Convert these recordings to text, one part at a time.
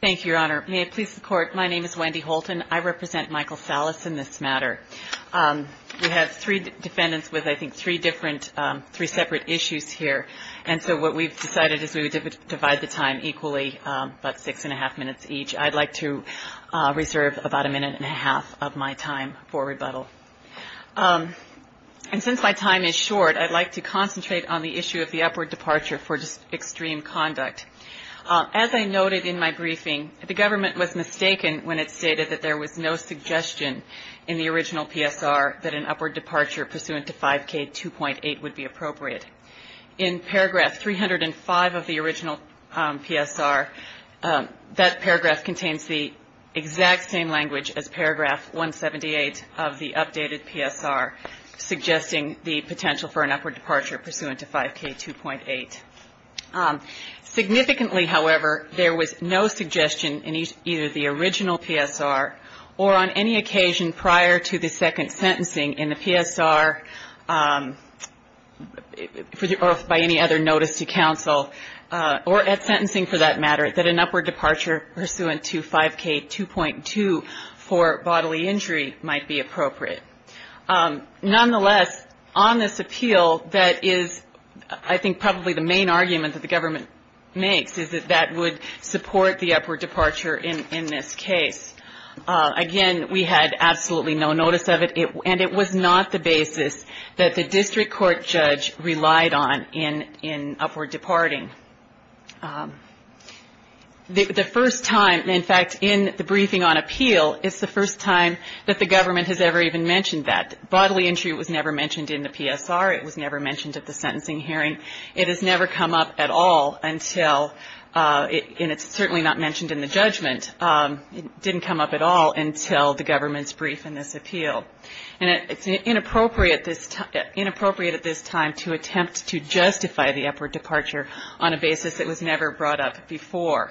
Thank you, Your Honor. May it please the Court, my name is Wendy Holton. I represent Michael Salas in this matter. We have three defendants with, I think, three different, three separate issues here. And so what we've decided is we would divide the time equally about six and a half minutes each. I'd like to reserve about a minute and a half of my time for rebuttal. And since my time is short, I'd like to concentrate on the issue of the upward departure for extreme conduct. As I noted in my briefing, the government was mistaken when it stated that there was no suggestion in the original PSR that an upward departure pursuant to 5K2.8 would be appropriate. In paragraph 305 of the original PSR, that paragraph contains the exact same language as paragraph 178 of the updated PSR, suggesting the potential for an upward departure pursuant to 5K2.8. Significantly, however, there was no suggestion in either the original PSR or on any occasion prior to the second sentencing in the PSR or by any other notice to counsel, or at sentencing for that matter, that an upward departure pursuant to 5K2.2 for bodily injury might be appropriate. Nonetheless, on this appeal, that is, I think, probably the main argument that the government makes, is that that would support the upward departure in this case. Again, we had absolutely no notice of it, and it was not the basis that the district court judge relied on in upward departing. The first time, in fact, in the briefing on appeal, it's the first time that the government has ever even mentioned that. Bodily injury was never mentioned in the PSR. It was never mentioned at the sentencing hearing. It has never come up at all until, and it's certainly not mentioned in the judgment, it didn't come up at all until the government's brief in this appeal. And it's inappropriate at this time to attempt to justify the upward departure on a basis that was never brought up before.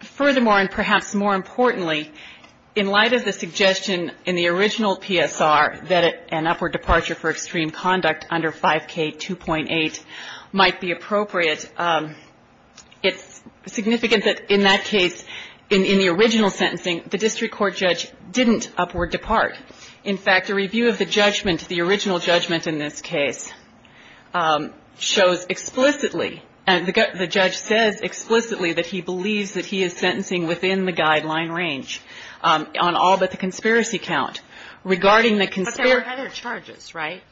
Furthermore, and perhaps more importantly, in light of the suggestion in the original PSR that an upward departure for extreme conduct under 5K2.8 might be appropriate, it's significant that in that case, in the original sentencing, the district court judge didn't upward depart. In fact, a review of the judgment, the original judgment in this case, shows explicitly, and the judge says explicitly that he believes that he is sentencing within the guideline range on all but the conspiracy count. But there were other charges, right?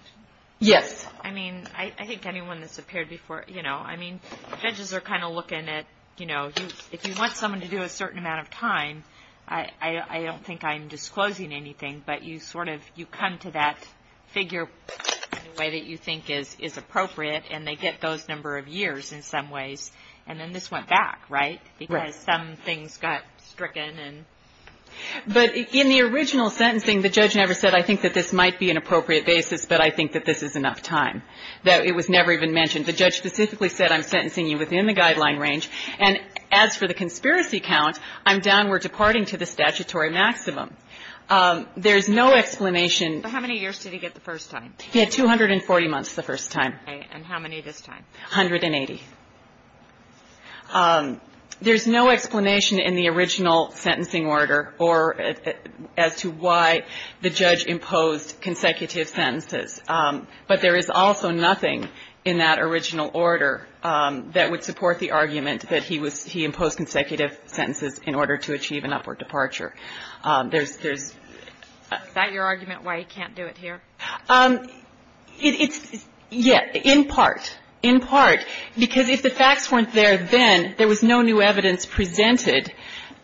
Yes. I mean, I think anyone that's appeared before, you know, I mean, judges are kind of looking at, you know, if you want someone to do a certain amount of time, I don't think I'm disclosing anything, but you sort of, you come to that figure in a way that you think is appropriate, and they get those number of years in some ways, and then this went back, right? Right. Because some things got stricken. But in the original sentencing, the judge never said, I think that this might be an appropriate basis, but I think that this is enough time. It was never even mentioned. The judge specifically said, I'm sentencing you within the guideline range, and as for the conspiracy count, I'm downward departing to the statutory maximum. There's no explanation. How many years did he get the first time? He had 240 months the first time. And how many this time? 180. There's no explanation in the original sentencing order or as to why the judge imposed consecutive sentences. But there is also nothing in that original order that would support the argument that he was, he imposed consecutive sentences in order to achieve an upward departure. There's, there's. Is that your argument why he can't do it here? It's, yeah, in part. In part. Because if the facts weren't there then, there was no new evidence presented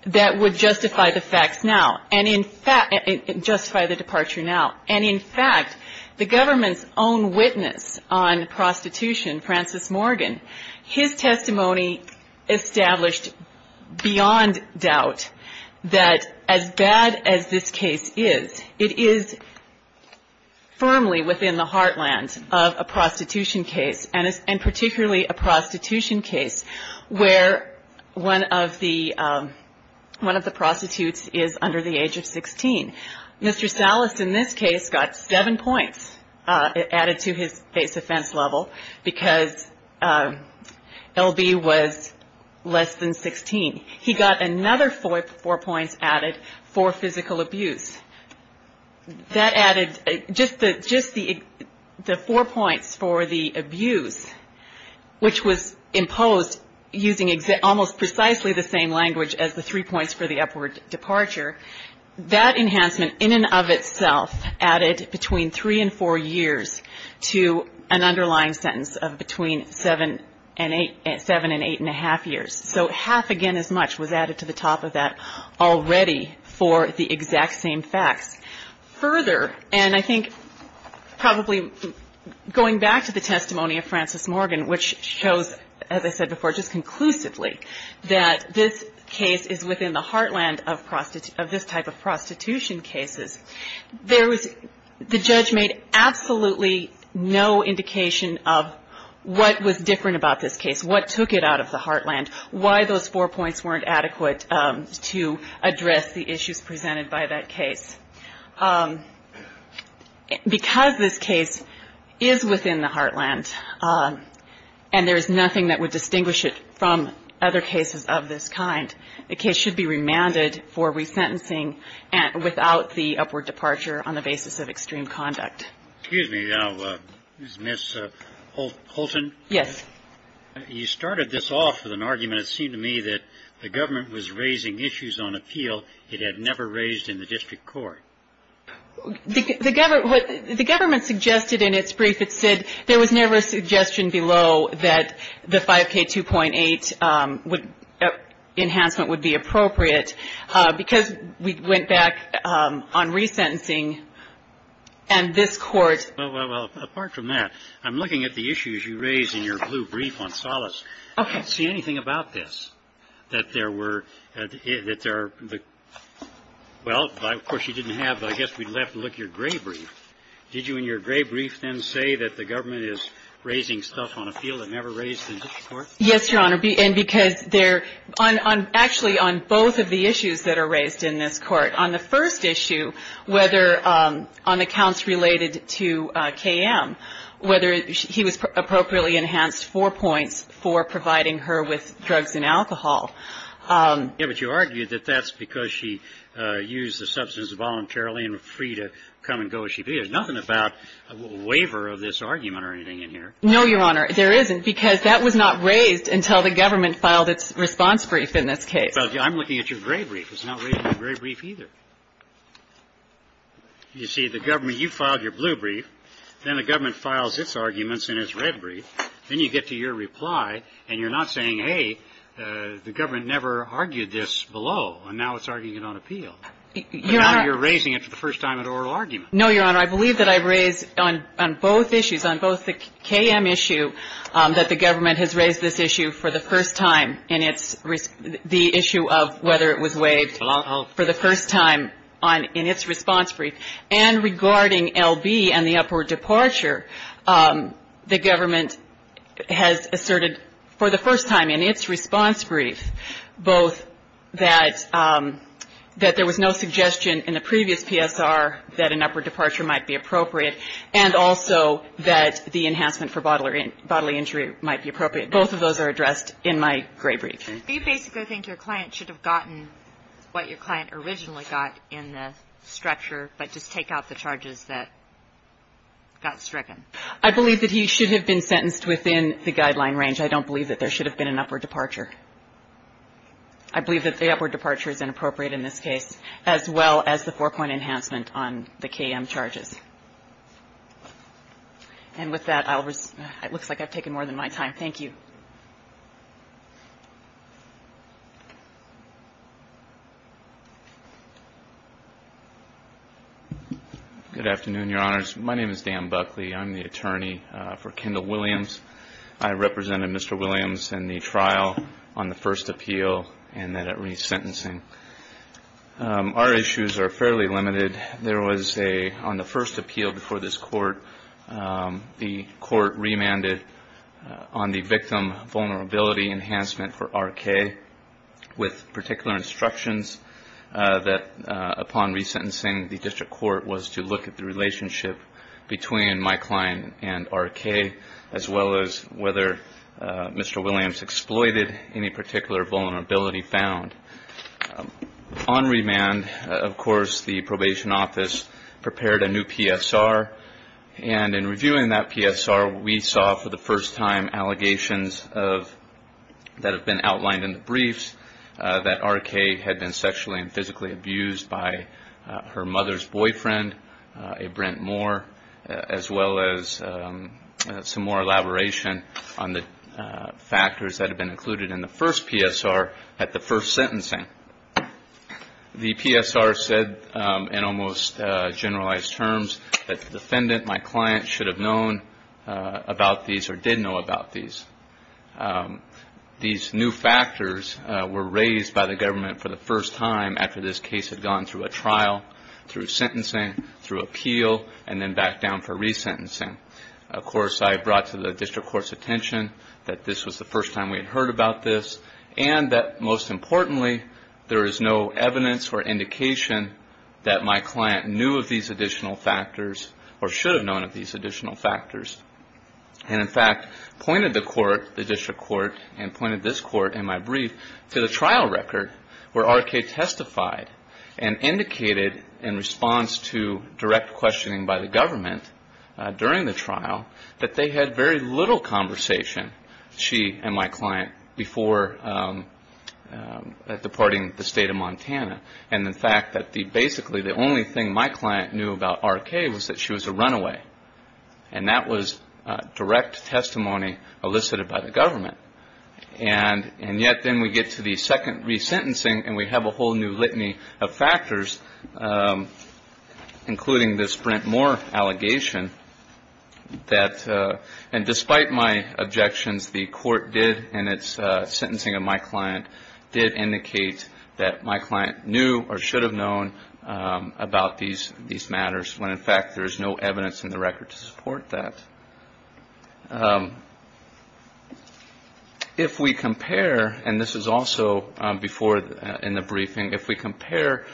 that would justify the facts now. And in fact, justify the departure now. And in fact, the government's own witness on prostitution, Francis Morgan, his testimony established beyond doubt that as bad as this case is, it is firmly within the heartland of a prostitution case, and particularly a prostitution case where one of the, one of the prostitutes is under the age of 16. Mr. Sallis, in this case, got seven points added to his base offense level because L.B. was less than 16. He got another four points added for physical abuse. That added, just the, just the, the four points for the abuse, which was imposed using almost precisely the same language as the three points for the upward departure, that enhancement in and of itself added between three and four years to an underlying sentence of between seven and eight, seven and eight and a half years. So half again as much was added to the top of that already for the exact same facts. Further, and I think probably going back to the testimony of Francis Morgan, which shows, as I said before, just conclusively, that this case is within the heartland of this type of prostitution cases, there was, the judge made absolutely no indication of what was different about this case, what took it out of the heartland, why those four points weren't adequate to address the issues presented by that case. Because this case is within the heartland, and there is nothing that would distinguish it from other cases of this kind, the case should be remanded for resentencing without the upward departure on the basis of extreme conduct. Excuse me, Ms. Holton. Yes. You started this off with an argument, it seemed to me, that the government was raising issues on appeal it had never raised in the district court. The government suggested in its brief, it said, there was never a suggestion below that the 5K2.8 enhancement would be appropriate. Because we went back on resentencing, and this Court ---- Well, apart from that, I'm looking at the issues you raised in your blue brief on solace. Okay. I don't see anything about this that there were, that there, well, of course, you didn't have, but I guess we'd have to look at your gray brief. Did you in your gray brief then say that the government is raising stuff on appeal that never raised in the district court? Yes, Your Honor. And because there ---- actually, on both of the issues that are raised in this Court. On the first issue, whether on accounts related to K.M., whether he was appropriately enhanced four points for providing her with drugs and alcohol. Yes, but you argued that that's because she used the substance voluntarily and was free to come and go as she pleased. There's nothing about a waiver of this argument or anything in here. No, Your Honor. There isn't, because that was not raised until the government filed its response brief in this case. I'm looking at your gray brief. It's not raised in your gray brief either. You see, the government, you filed your blue brief. Then the government files its arguments in its red brief. Then you get to your reply, and you're not saying, hey, the government never argued this below, and now it's arguing it on appeal. Your Honor ---- But now you're raising it for the first time at oral argument. No, Your Honor. Your Honor, I believe that I raised on both issues, on both the K.M. issue, that the government has raised this issue for the first time in its ---- the issue of whether it was waived for the first time in its response brief. And regarding L.B. and the upward departure, the government has asserted for the first time in its response brief, both that there was no suggestion in the previous PSR that an upward departure might be appropriate and also that the enhancement for bodily injury might be appropriate. Both of those are addressed in my gray brief. Do you basically think your client should have gotten what your client originally got in the stretcher, but just take out the charges that got stricken? I believe that he should have been sentenced within the guideline range. I don't believe that there should have been an upward departure. I believe that the upward departure is inappropriate in this case, as well as the four-point enhancement on the K.M. charges. And with that, I'll resume. It looks like I've taken more than my time. Thank you. Good afternoon, Your Honors. My name is Dan Buckley. I'm the attorney for Kendall Williams. I represented Mr. Williams in the trial on the first appeal and then at resentencing. Our issues are fairly limited. There was a, on the first appeal before this court, the court remanded on the victim vulnerability enhancement for R.K. with particular instructions that upon resentencing, the district court was to look at the relationship between my client and R.K., as well as whether Mr. Williams exploited any particular vulnerability found. On remand, of course, the probation office prepared a new PSR. And in reviewing that PSR, we saw for the first time allegations that have been outlined in the briefs that R.K. had been sexually and physically abused by her mother's boyfriend, a Brent Moore, as well as some more elaboration on the factors that have been included in the first PSR at the first sentencing. The PSR said in almost generalized terms that the defendant, my client, should have known about these or did know about these. These new factors were raised by the government for the first time after this case had gone through a trial, through sentencing, through appeal, and then back down for resentencing. Of course, I brought to the district court's attention that this was the first time we had heard about this, and that most importantly, there is no evidence or indication that my client knew of these additional factors or should have known of these additional factors. And in fact, pointed the court, the district court, and pointed this court in my brief to the trial record where R.K. testified and indicated in response to direct questioning by the government during the trial that they had very little conversation, she and my client, before departing the state of Montana. And in fact, basically the only thing my client knew about R.K. was that she was a runaway, and that was direct testimony elicited by the government. And yet then we get to the second resentencing, and we have a whole new litany of factors, including this Brent Moore allegation that, and despite my objections, the court did, and its sentencing of my client did indicate that my client knew or should have known about these matters, when in fact there is no evidence in the record to support that. If we compare, and this is also before in the briefing, if we compare,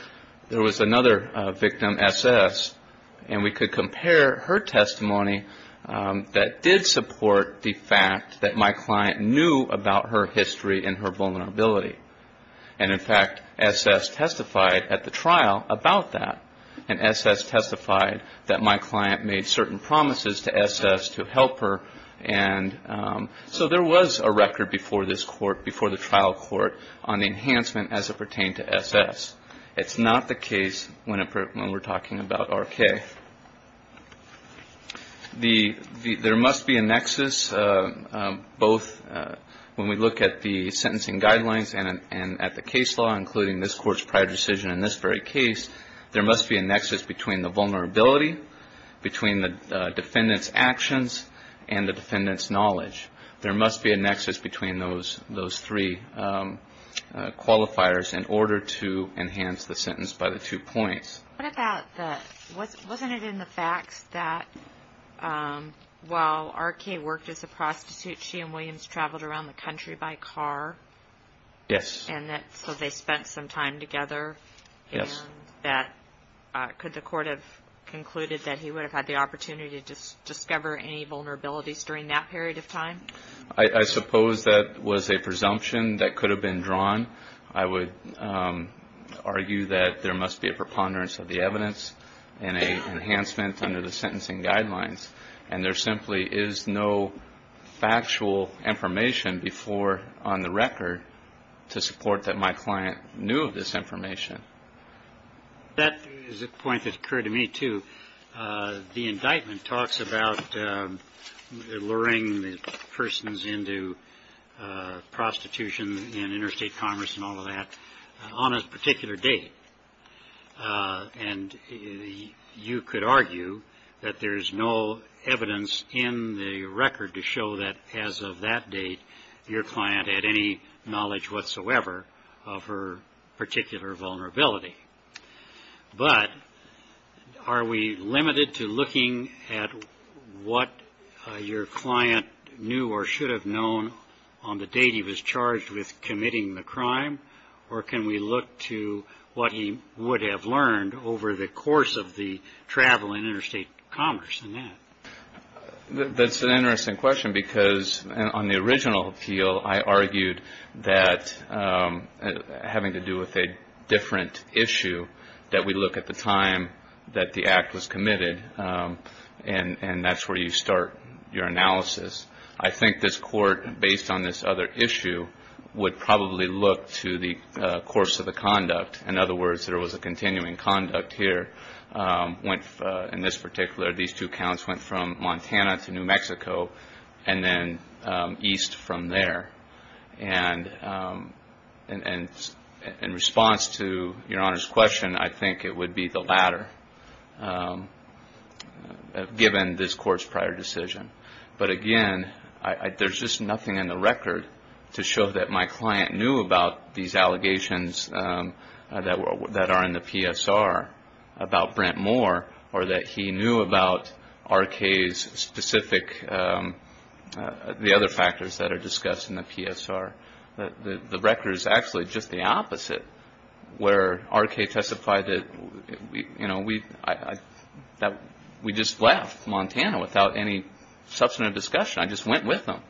there was another victim, S.S., and we could compare her testimony that did support the fact that my client knew about her history and her vulnerability. And in fact, S.S. testified at the trial about that, and S.S. testified that my client made certain promises to S.S. to help her, and so there was a record before this court, before the trial court, on enhancement as it pertained to S.S. It's not the case when we're talking about R.K. There must be a nexus, both when we look at the sentencing guidelines and at the case law, including this court's prior decision in this very case, there must be a nexus between the vulnerability, between the defendant's actions, and the defendant's knowledge. There must be a nexus between those three qualifiers in order to enhance the sentence by the two points. What about the, wasn't it in the facts that while R.K. worked as a prostitute, she and Williams traveled around the country by car? Yes. And that, so they spent some time together? Yes. And that, could the court have concluded that he would have had the opportunity to discover any vulnerabilities during that period of time? I suppose that was a presumption that could have been drawn. I would argue that there must be a preponderance of the evidence and an enhancement under the sentencing guidelines. And there simply is no factual information before, on the record, to support that my client knew of this information. That is a point that occurred to me, too. The indictment talks about luring the persons into prostitution and interstate commerce and all of that on a particular date. And you could argue that there is no evidence in the record to show that as of that date, your client had any knowledge whatsoever of her particular vulnerability. But are we limited to looking at what your client knew or should have known on the date he was charged with committing the crime? Or can we look to what he would have learned over the course of the travel and interstate commerce in that? That's an interesting question because on the original appeal, I argued that having to do with a different issue that we look at the time that the act was committed. And that's where you start your analysis. I think this court, based on this other issue, would probably look to the course of the conduct. In other words, there was a continuing conduct here. In this particular, these two counts went from Montana to New Mexico and then east from there. And in response to your Honor's question, I think it would be the latter, given this court's prior decision. But again, there's just nothing in the record to show that my client knew about these allegations that are in the PSR about Brent Moore or that he knew about R.K.'s specific, the other factors that are discussed in the PSR. The record is actually just the opposite where R.K. testified that we just left Montana without any substantive discussion. I just went with them.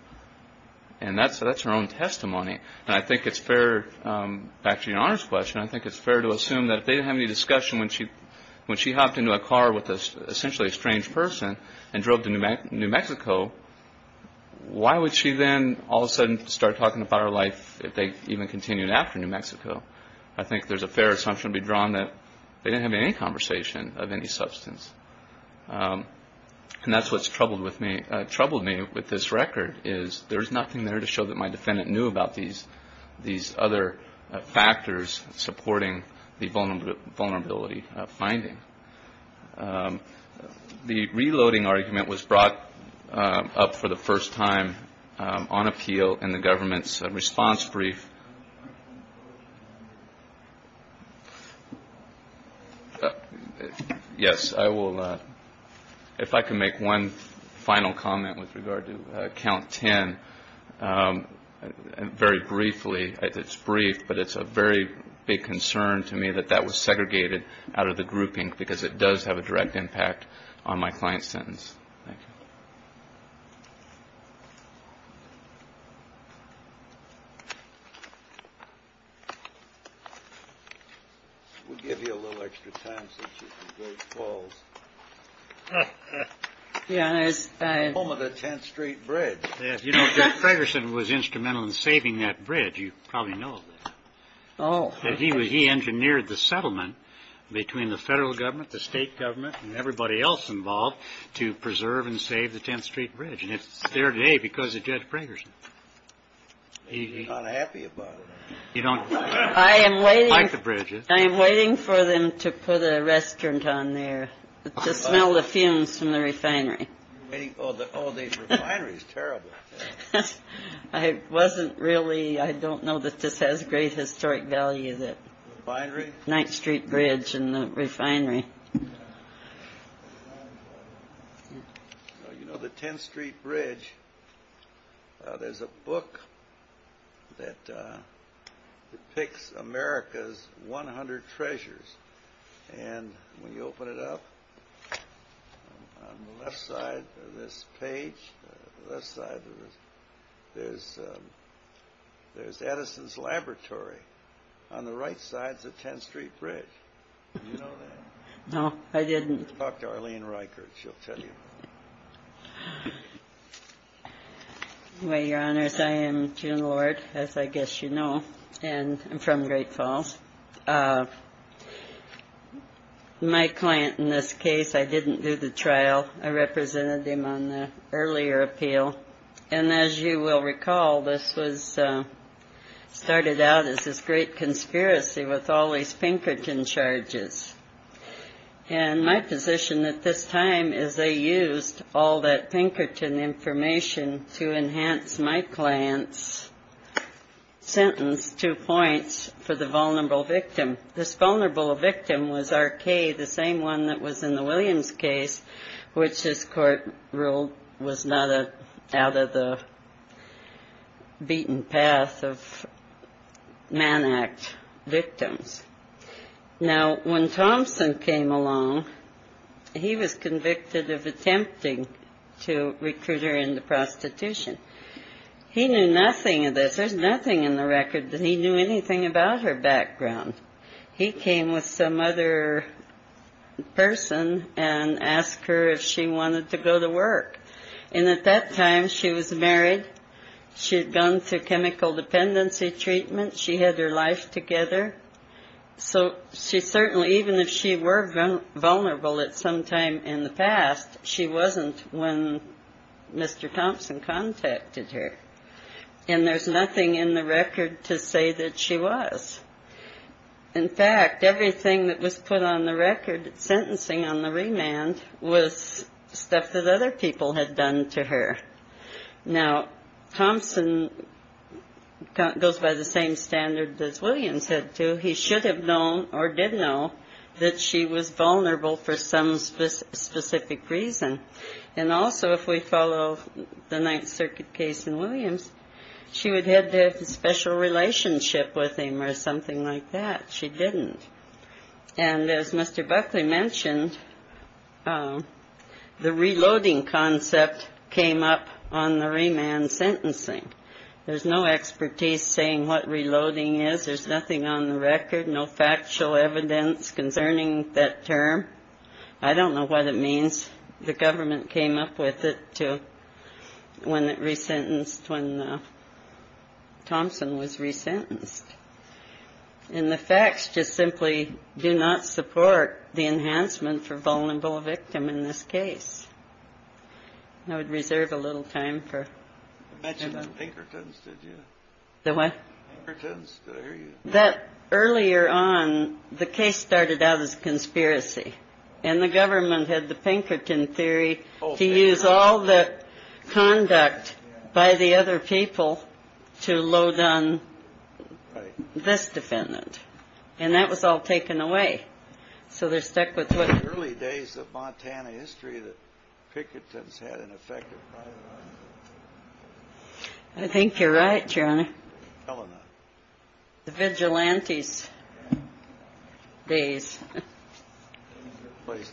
And that's her own testimony. And I think it's fair, back to your Honor's question, I think it's fair to assume that if they didn't have any discussion when she hopped into a car with essentially a strange person and drove to New Mexico, why would she then all of a sudden start talking about her life if they even continued after New Mexico? I think there's a fair assumption to be drawn that they didn't have any conversation of any substance. And that's what's troubled me with this record is there's nothing there to show that my defendant knew about these other factors supporting the vulnerability finding. The reloading argument was brought up for the first time on appeal in the government's response brief. Yes, if I can make one final comment with regard to Count 10. Very briefly, it's brief, but it's a very big concern to me that that was segregated out of the grouping because it does have a direct impact on my client's sentence. Thank you. We'll give you a little extra time since you're from Great Falls. Home of the 10th Street Bridge. You know, Jeff Fragerson was instrumental in saving that bridge. You probably know that. Oh, he was. He engineered the settlement between the federal government, the state government and everybody else involved to preserve and save the 10th Street Bridge. And it's there today because of Judge Fragerson. You're not happy about it. You don't like the bridges. I am waiting for them to put a restaurant on there to smell the fumes from the refinery. Oh, the refinery is terrible. I wasn't really. I don't know that this has great historic value, the 9th Street Bridge and the refinery. You know, the 10th Street Bridge, there's a book that depicts America's 100 treasures. And when you open it up, on the left side of this page, there's Edison's Laboratory. On the right side is the 10th Street Bridge. Did you know that? No, I didn't. Talk to Arlene Reichert. She'll tell you. Well, Your Honors, I am June Lord, as I guess you know, and I'm from Great Falls. My client in this case, I didn't do the trial. I represented him on the earlier appeal. And as you will recall, this was started out as this great conspiracy with all these Pinkerton charges. And my position at this time is they used all that Pinkerton information to enhance my client's sentence, two points, for the vulnerable victim. This vulnerable victim was R.K., the same one that was in the Williams case, which, as court ruled, was not out of the beaten path of Man Act victims. Now, when Thompson came along, he was convicted of attempting to recruit her into prostitution. He knew nothing of this. There's nothing in the record that he knew anything about her background. He came with some other person and asked her if she wanted to go to work. And at that time, she was married. She had gone through chemical dependency treatment. She had her life together. So she certainly, even if she were vulnerable at some time in the past, she wasn't when Mr. Thompson contacted her. And there's nothing in the record to say that she was. In fact, everything that was put on the record, sentencing on the remand, was stuff that other people had done to her. Now, Thompson goes by the same standard that Williams had to. He should have known or did know that she was vulnerable for some specific reason. And also, if we follow the Ninth Circuit case in Williams, she would have had a special relationship with him or something like that. She didn't. And as Mr. Buckley mentioned, the reloading concept came up on the remand sentencing. There's no expertise saying what reloading is. There's nothing on the record, no factual evidence concerning that term. I don't know what it means. The government came up with it when it resentenced, when Thompson was resentenced. And the facts just simply do not support the enhancement for vulnerable victim in this case. I would reserve a little time for that. The one that earlier on the case started out as a conspiracy and the government had the Pinkerton theory to use all the conduct by the other people to load on. This defendant. And that was all taken away. So they're stuck with what? Early days of Montana history that Pinkerton's had an effect. I think you're right, Your Honor. The vigilantes days. Place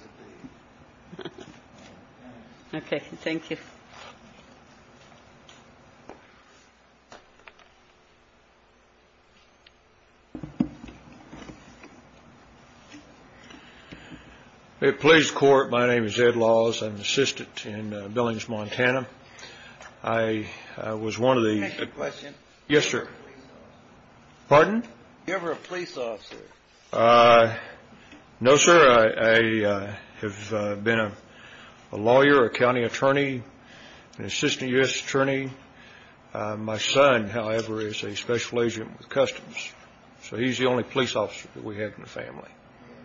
to be. OK, thank you. It plays court. My name is Ed Laws. I'm assistant in Billings, Montana. I was one of the question. Yes, sir. Pardon. You ever a police officer? No, sir. I have been a lawyer, a county attorney, an assistant U.S. attorney. My son, however, is a special agent with customs. So he's the only police officer that we have in the family.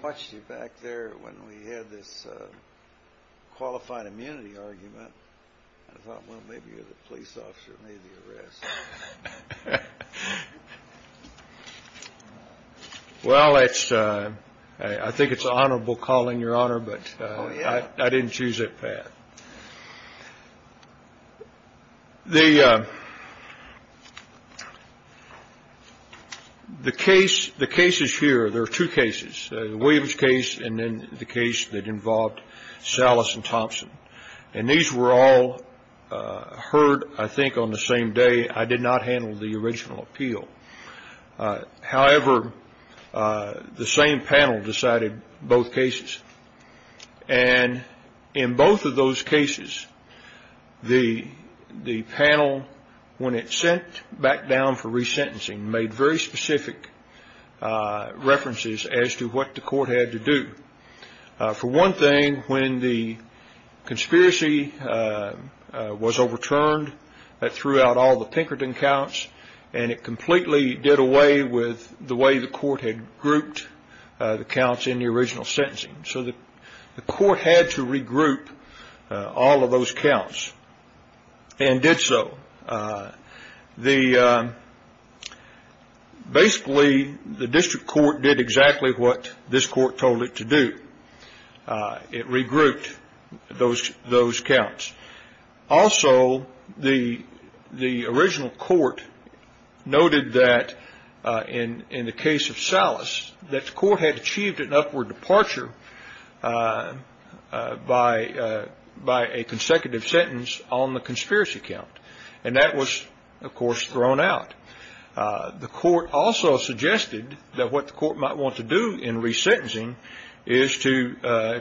Watch you back there when we had this qualified immunity argument. I thought, well, maybe you're the police officer. Maybe arrest. Well, it's I think it's honorable calling your honor. But I didn't choose it. The. The case, the cases here, there are two cases, the Williams case and then the case that involved Salas and Thompson. And these were all heard, I think, on the same day. I did not handle the original appeal. However, the same panel decided both cases. And in both of those cases, the the panel, when it sent back down for resentencing, made very specific references as to what the court had to do. For one thing, when the conspiracy was overturned, that threw out all the Pinkerton counts. And it completely did away with the way the court had grouped the counts in the original sentencing. So the court had to regroup all of those counts and did so. The basically the district court did exactly what this court told it to do. It regrouped those those counts. Also, the the original court noted that in in the case of Salas, that the court had achieved an upward departure by by a consecutive sentence on the conspiracy count. And that was, of course, thrown out. The court also suggested that what the court might want to do in resentencing is to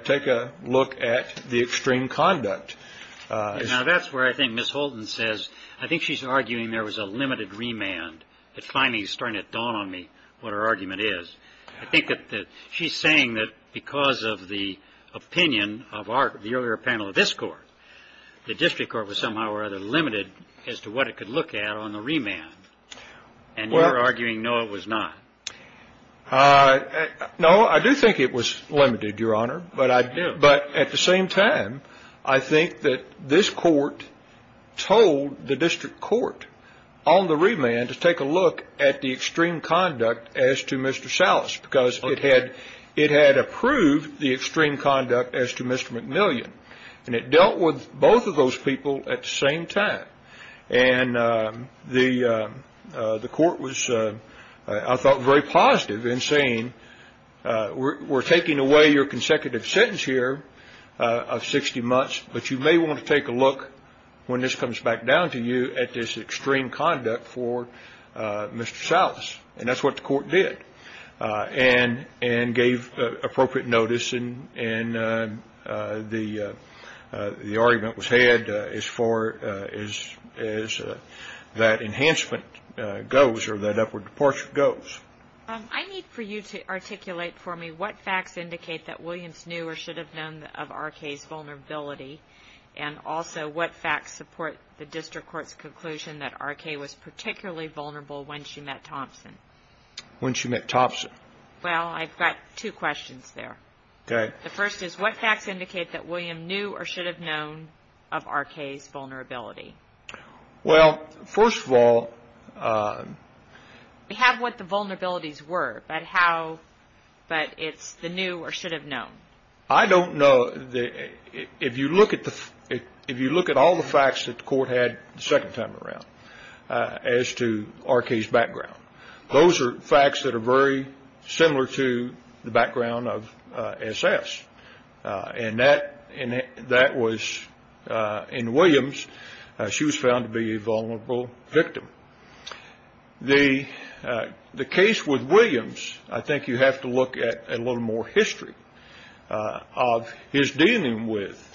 take a look at the extreme conduct. Now, that's where I think Miss Holden says I think she's arguing there was a limited remand. It's finally starting to dawn on me what her argument is. I think that she's saying that because of the opinion of our earlier panel of this court, the district court was somehow or other limited as to what it could look at on the remand. And we're arguing no, it was not. No, I do think it was limited, Your Honor. But I do. But at the same time, I think that this court told the district court on the remand to take a look at the extreme conduct as to Mr. Salas, because it had it had approved the extreme conduct as to Mr. And it dealt with both of those people at the same time. And the court was, I thought, very positive in saying we're taking away your consecutive sentence here of 60 months. But you may want to take a look when this comes back down to you at this extreme conduct for Mr. And gave appropriate notice. And the argument was had as far as that enhancement goes or that upward departure goes. I need for you to articulate for me what facts indicate that Williams knew or should have known of R.K.'s vulnerability. And also what facts support the district court's conclusion that R.K. was particularly vulnerable when she met Thompson? When she met Thompson. Well, I've got two questions there. Okay. The first is what facts indicate that William knew or should have known of R.K.'s vulnerability? Well, first of all. We have what the vulnerabilities were, but how but it's the new or should have known. I don't know if you look at all the facts that the court had the second time around as to R.K.'s background. Those are facts that are very similar to the background of S.S. And that was in Williams. She was found to be a vulnerable victim. The case with Williams, I think you have to look at a little more history of his dealing with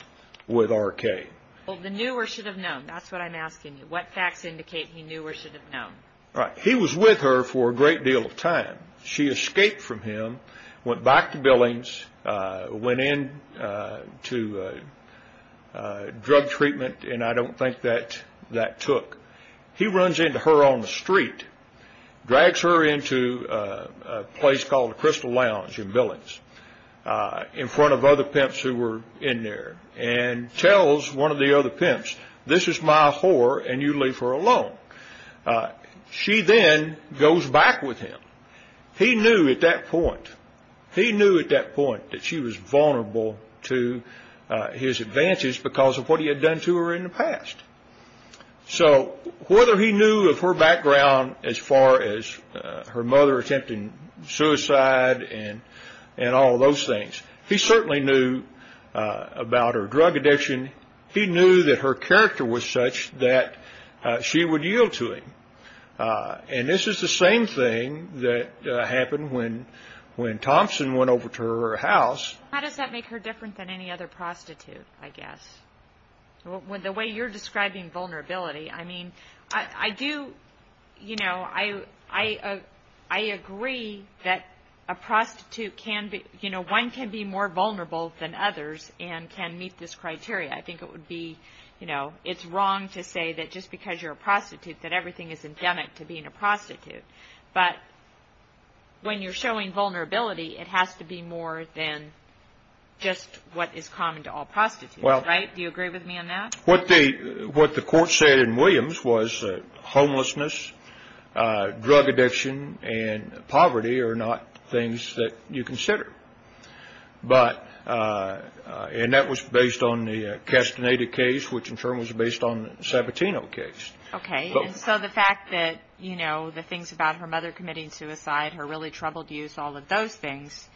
R.K. The new or should have known, that's what I'm asking you. What facts indicate he knew or should have known? He was with her for a great deal of time. She escaped from him, went back to Billings, went into drug treatment, and I don't think that that took. He runs into her on the street, drags her into a place called the Crystal Lounge in Billings in front of other pimps who were in there, and tells one of the other pimps, this is my whore and you leave her alone. She then goes back with him. He knew at that point, he knew at that point that she was vulnerable to his advances because of what he had done to her in the past. So whether he knew of her background as far as her mother attempting suicide and all those things, he certainly knew about her drug addiction. He knew that her character was such that she would yield to him. And this is the same thing that happened when Thompson went over to her house. How does that make her different than any other prostitute, I guess? The way you're describing vulnerability, I agree that one can be more vulnerable than others and can meet this criteria. I think it's wrong to say that just because you're a prostitute that everything is endemic to being a prostitute. But when you're showing vulnerability, it has to be more than just what is common to all prostitutes, right? Do you agree with me on that? What the court said in Williams was homelessness, drug addiction, and poverty are not things that you consider. And that was based on the Castaneda case, which in turn was based on the Sabatino case. Okay. And so the fact that, you know, the things about her mother committing suicide, her really troubled youth, all of those things,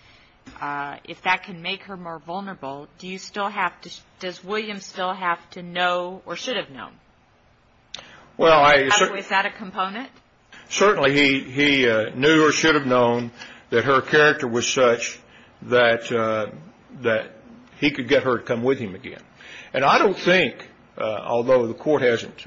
if that can make her more vulnerable, does Williams still have to know or should have known? Was that a component? Certainly he knew or should have known that her character was such that he could get her to come with him again. And I don't think, although the court hasn't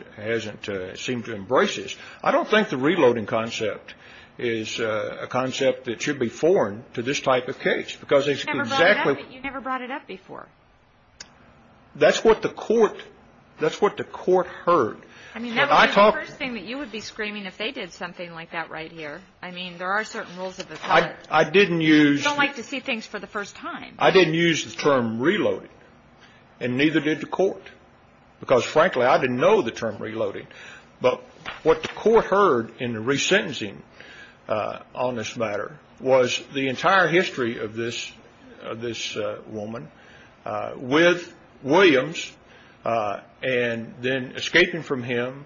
seemed to embrace this, I don't think the reloading concept is a concept that should be foreign to this type of case because it's exactly. You never brought it up before. That's what the court heard. I mean, that would be the first thing that you would be screaming if they did something like that right here. I mean, there are certain rules of the court. I didn't use. You don't like to see things for the first time. I didn't use the term reloading and neither did the court because, frankly, I didn't know the term reloading. But what the court heard in the resentencing on this matter was the entire history of this woman with Williams and then escaping from him,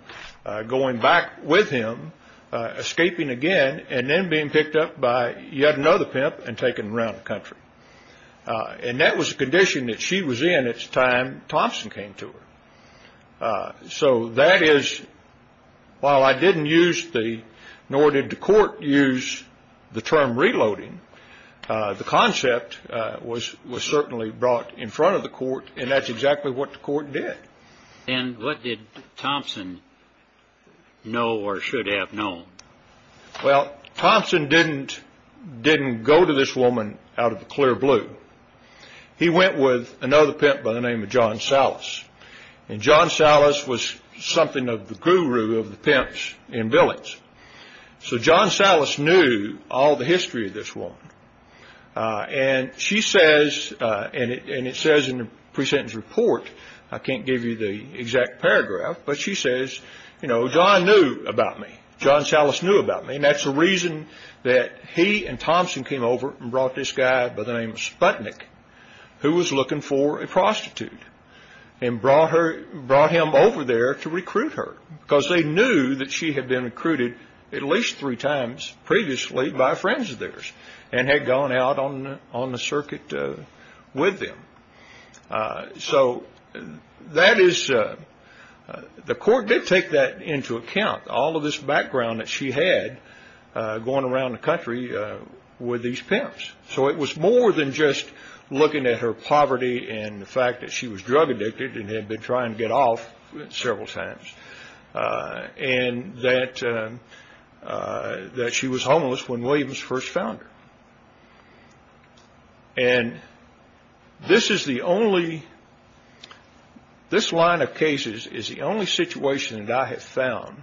going back with him, escaping again, and then being picked up by yet another pimp and taken around the country. And that was a condition that she was in at the time Thompson came to her. So that is, while I didn't use the, nor did the court use the term reloading, the concept was certainly brought in front of the court and that's exactly what the court did. And what did Thompson know or should have known? Well, Thompson didn't go to this woman out of the clear blue. He went with another pimp by the name of John Salas. And John Salas was something of the guru of the pimps in Billings. So John Salas knew all the history of this woman. And she says, and it says in the presentence report, I can't give you the exact paragraph, but she says, you know, John knew about me. John Salas knew about me. And that's the reason that he and Thompson came over and brought this guy by the name of Sputnik, who was looking for a prostitute and brought him over there to recruit her because they knew that she had been recruited at least three times previously by friends of theirs and had gone out on the circuit with them. So that is, the court did take that into account, all of this background that she had going around the country with these pimps. So it was more than just looking at her poverty and the fact that she was drug addicted and had been trying to get off several times and that she was homeless when Williams first found her. And this is the only, this line of cases is the only situation that I have found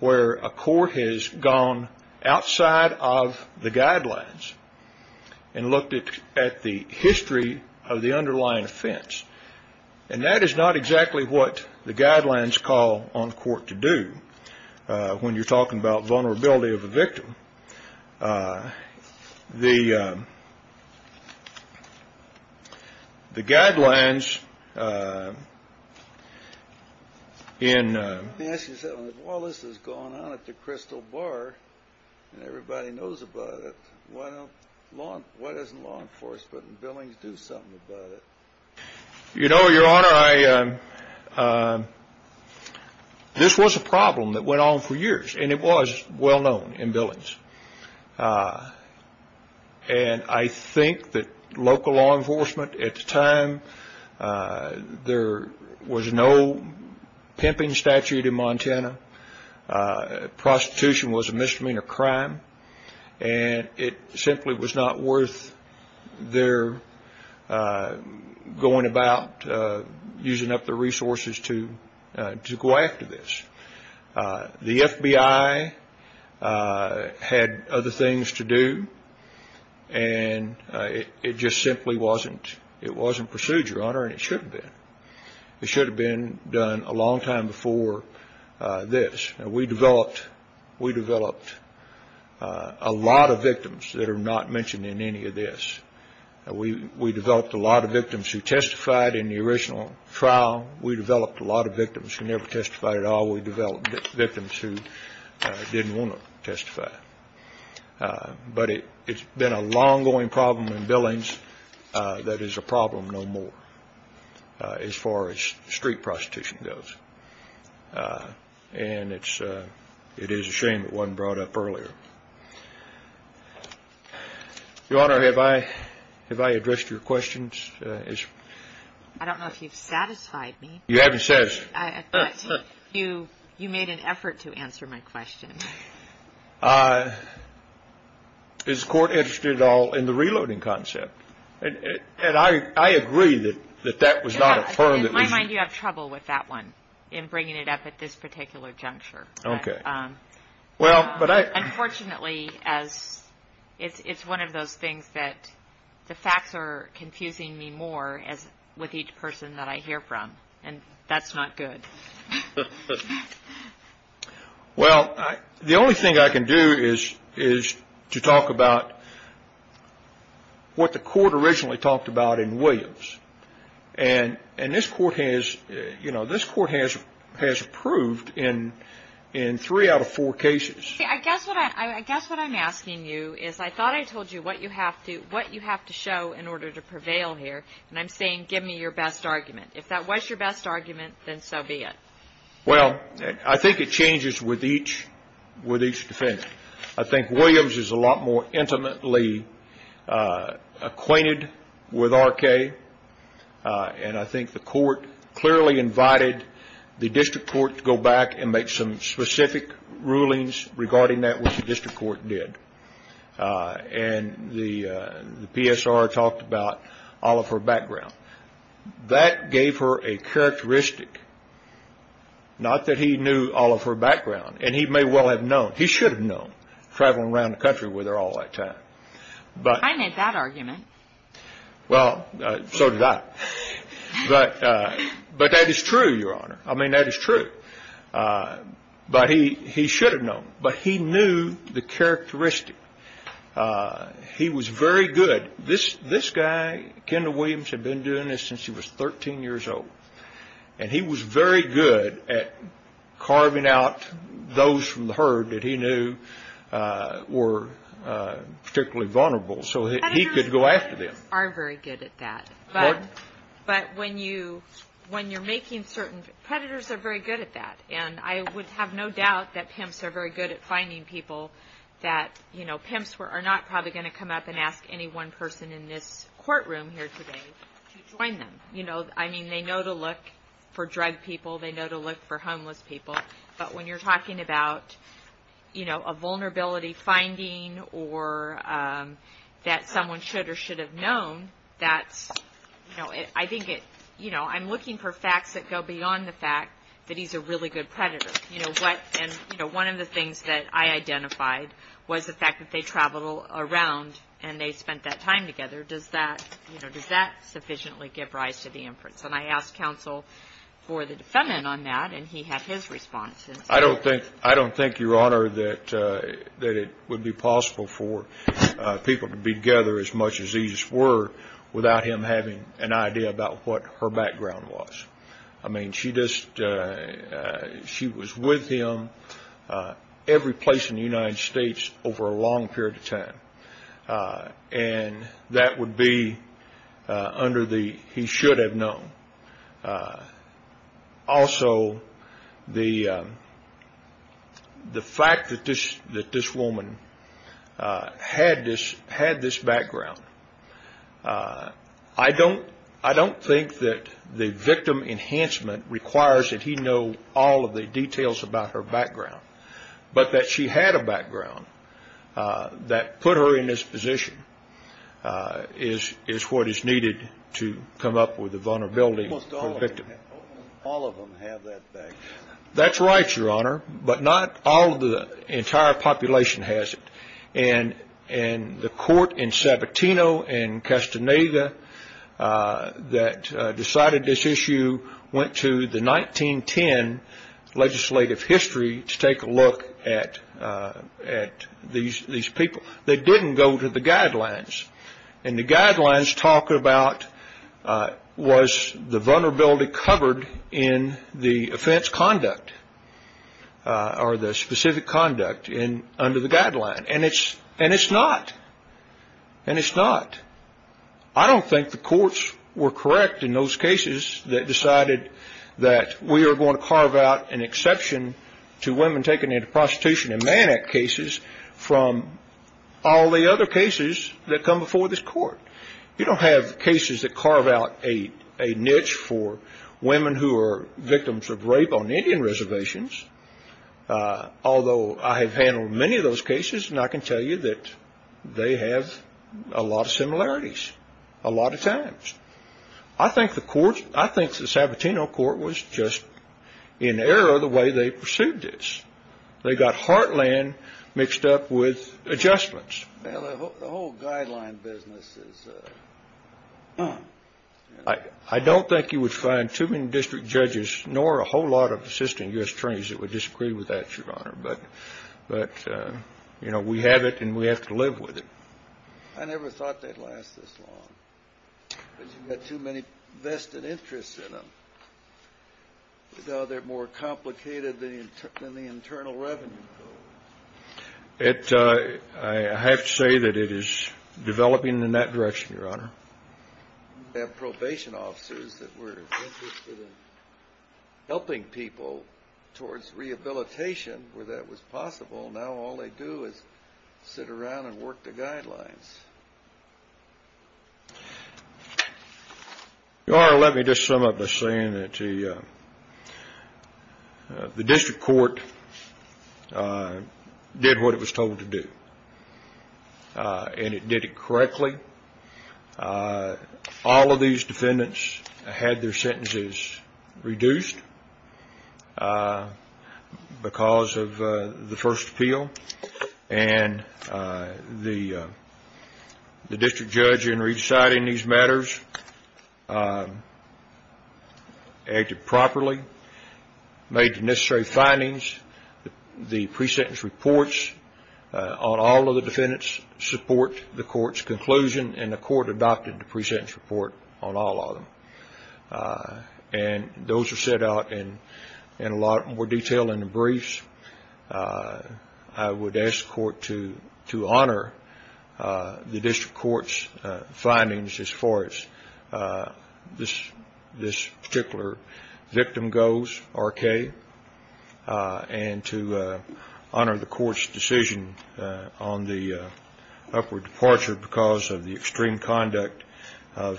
where a court has gone outside of the guidelines and looked at the history of the underlying offense. And that is not exactly what the guidelines call on the court to do when you're talking about vulnerability of a victim. The guidelines in... Let me ask you something. If all this is going on at the Crystal Bar and everybody knows about it, why doesn't law enforcement in Billings do something about it? You know, Your Honor, this was a problem that went on for years and it was well known in Billings. And I think that local law enforcement at the time, there was no pimping statute in Montana. Prostitution was a misdemeanor crime and it simply was not worth their going about using up their resources to go after this. The FBI had other things to do and it just simply wasn't procedure, Your Honor, and it should have been. It should have been done a long time before this. We developed a lot of victims that are not mentioned in any of this. We developed a lot of victims who testified in the original trial. We developed a lot of victims who never testified at all. We developed victims who didn't want to testify. But it's been a long-going problem in Billings that is a problem no more as far as street prostitution goes. And it is a shame it wasn't brought up earlier. Your Honor, have I addressed your questions? I don't know if you've satisfied me. You haven't satisfied me. You made an effort to answer my question. Is the Court interested at all in the reloading concept? And I agree that that was not a firm that was. In my mind, you have trouble with that one, in bringing it up at this particular juncture. Okay. Unfortunately, it's one of those things that the facts are confusing me more with each person that I hear from, and that's not good. Well, the only thing I can do is to talk about what the Court originally talked about in Williams. And this Court has approved in three out of four cases. See, I guess what I'm asking you is I thought I told you what you have to show in order to prevail here, and I'm saying give me your best argument. If that was your best argument, then so be it. Well, I think it changes with each defense. I think Williams is a lot more intimately acquainted with R.K., and I think the Court clearly invited the District Court to go back and make some specific rulings regarding that which the District Court did. And the PSR talked about all of her background. That gave her a characteristic, not that he knew all of her background, and he may well have known. He should have known, traveling around the country with her all that time. I made that argument. Well, so did I. But that is true, Your Honor. I mean, that is true. But he should have known. But he knew the characteristic. He was very good. This guy, Kendall Williams, had been doing this since he was 13 years old, and he was very good at carving out those from the herd that he knew were particularly vulnerable, so he could go after them. Predators are very good at that. Pardon? But when you're making certain, predators are very good at that, and I would have no doubt that pimps are very good at finding people that, you know, pimps are not probably going to come up and ask any one person in this courtroom here today to join them. You know, I mean, they know to look for drug people. They know to look for homeless people. But when you're talking about, you know, a vulnerability finding or that someone should or should have known, that's, you know, I think it, you know, I'm looking for facts that go beyond the fact that he's a really good predator. You know, one of the things that I identified was the fact that they traveled around and they spent that time together. Does that, you know, does that sufficiently give rise to the inference? And I asked counsel for the defendant on that, and he had his response. I don't think, Your Honor, that it would be possible for people to be together as much as these were without him having an idea about what her background was. I mean, she just, she was with him every place in the United States over a long period of time, and that would be under the he should have known. Also, the fact that this woman had this background, I don't think that the victim enhancement requires that he know all of the details about her background, but that she had a background that put her in this position is what is needed to come up with a vulnerability for the victim. Almost all of them have that background. That's right, Your Honor, but not all of the entire population has it, and the court in Sabatino and Castaneda that decided this issue went to the 1910 legislative history to take a look at these people. They didn't go to the guidelines, and the guidelines talk about was the vulnerability covered in the offense conduct or the specific conduct under the guideline, and it's not. And it's not. I don't think the courts were correct in those cases that decided that we are going to carve out an exception to women taken into prostitution in Manack cases from all the other cases that come before this court. You don't have cases that carve out a niche for women who are victims of rape on Indian reservations, although I have handled many of those cases, and I can tell you that they have a lot of similarities a lot of times. I think the Sabatino court was just in error the way they pursued this. They got heartland mixed up with adjustments. Well, the whole guideline business is done. I don't think you would find too many district judges nor a whole lot of assistant U.S. attorneys that would disagree with that, Your Honor, but, you know, we have it, and we have to live with it. I never thought they'd last this long because you've got too many vested interests in them. You know, they're more complicated than the Internal Revenue Code. I have to say that it is developing in that direction, Your Honor. We have probation officers that were interested in helping people towards rehabilitation where that was possible. Now all they do is sit around and work the guidelines. Your Honor, let me just sum up by saying that the district court did what it was told to do, and it did it correctly. All of these defendants had their sentences reduced because of the first appeal, and the district judge in reciting these matters acted properly, made the necessary findings. The pre-sentence reports on all of the defendants support the court's conclusion, and the court adopted the pre-sentence report on all of them. And those are set out in a lot more detail in the briefs. I would ask the court to honor the district court's findings as far as this particular victim goes, R.K., and to honor the court's decision on the upward departure because of the extreme conduct of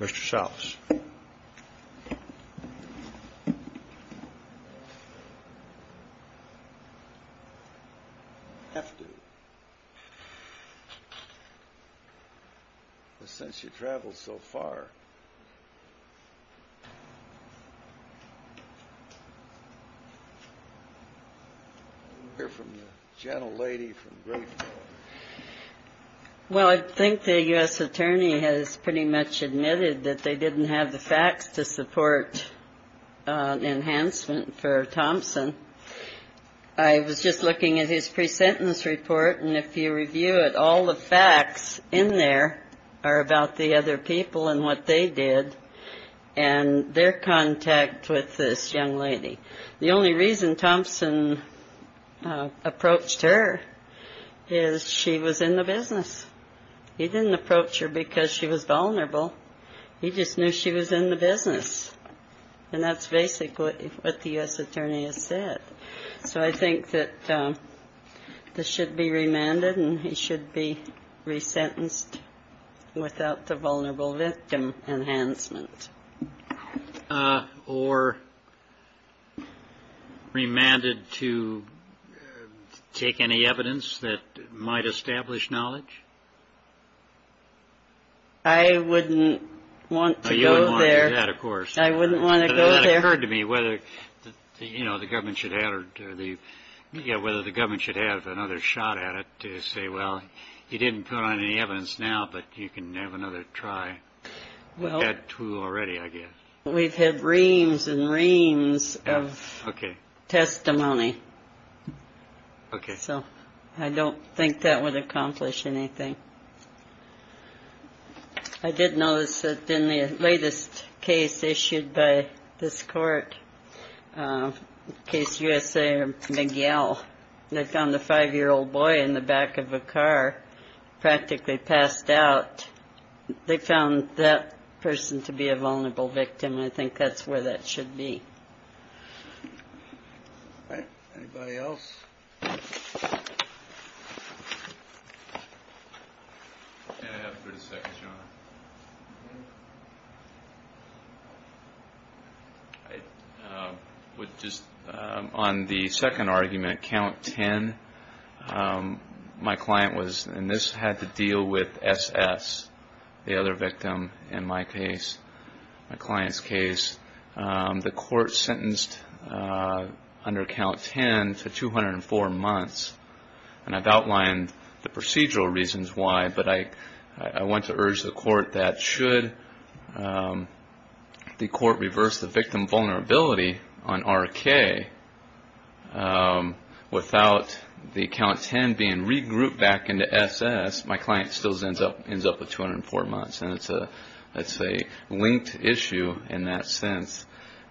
Mr. Souths. I have to, but since you've traveled so far, I hear from the gentlelady from Grayfield. Well, I think the U.S. attorney has pretty much admitted that they didn't have the facts to support enhancement for Thompson. I was just looking at his pre-sentence report, and if you review it, all the facts in there are about the other people and what they did and their contact with this young lady. The only reason Thompson approached her is she was in the business. He didn't approach her because she was vulnerable. He just knew she was in the business, and that's basically what the U.S. attorney has said. So I think that this should be remanded, and he should be resentenced without the vulnerable victim enhancement. Or remanded to take any evidence that might establish knowledge? I wouldn't want to go there. You wouldn't want to do that, of course. I wouldn't want to go there. That occurred to me whether the government should have another shot at it to say, well, you didn't put on any evidence now, but you can have another try at that tool already, I guess. We've had reams and reams of testimony, so I don't think that would accomplish anything. I did notice that in the latest case issued by this court, Case USA or McGill, they found a five-year-old boy in the back of a car, practically passed out. They found that person to be a vulnerable victim. I think that's where that should be. All right. Anybody else? On the second argument, Count 10, my client was, and this had to deal with SS, the other victim in my case, my client's case. The court sentenced under Count 10 to 204 months in prison. I've outlined the procedural reasons why, but I want to urge the court that should the court reverse the victim vulnerability on RK, without the Count 10 being regrouped back into SS, my client still ends up with 204 months. It's a linked issue in that sense.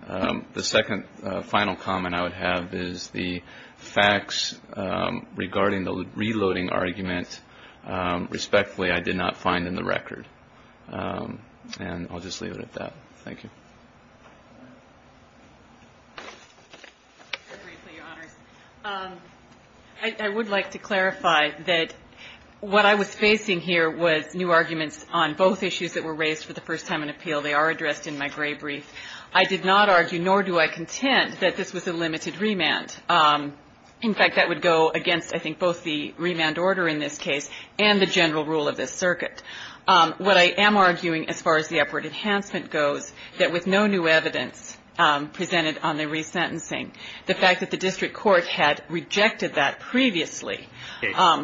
The second final comment I would have is the facts regarding the reloading argument, respectfully, I did not find in the record. And I'll just leave it at that. Thank you. I would like to clarify that what I was facing here was new arguments on both issues that were raised for the first time in appeal. They are addressed in my gray brief. I did not argue, nor do I contend, that this was a limited remand. In fact, that would go against, I think, both the remand order in this case and the general rule of this circuit. What I am arguing, as far as the upward enhancement goes, that with no new evidence presented on the resentencing, the fact that the district court had rejected that previously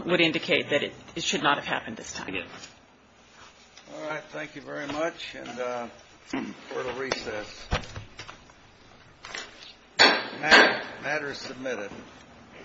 would indicate that it should not have happened this time. All right. Thank you very much. And for the recess, matter is submitted. Thank you. Thank you.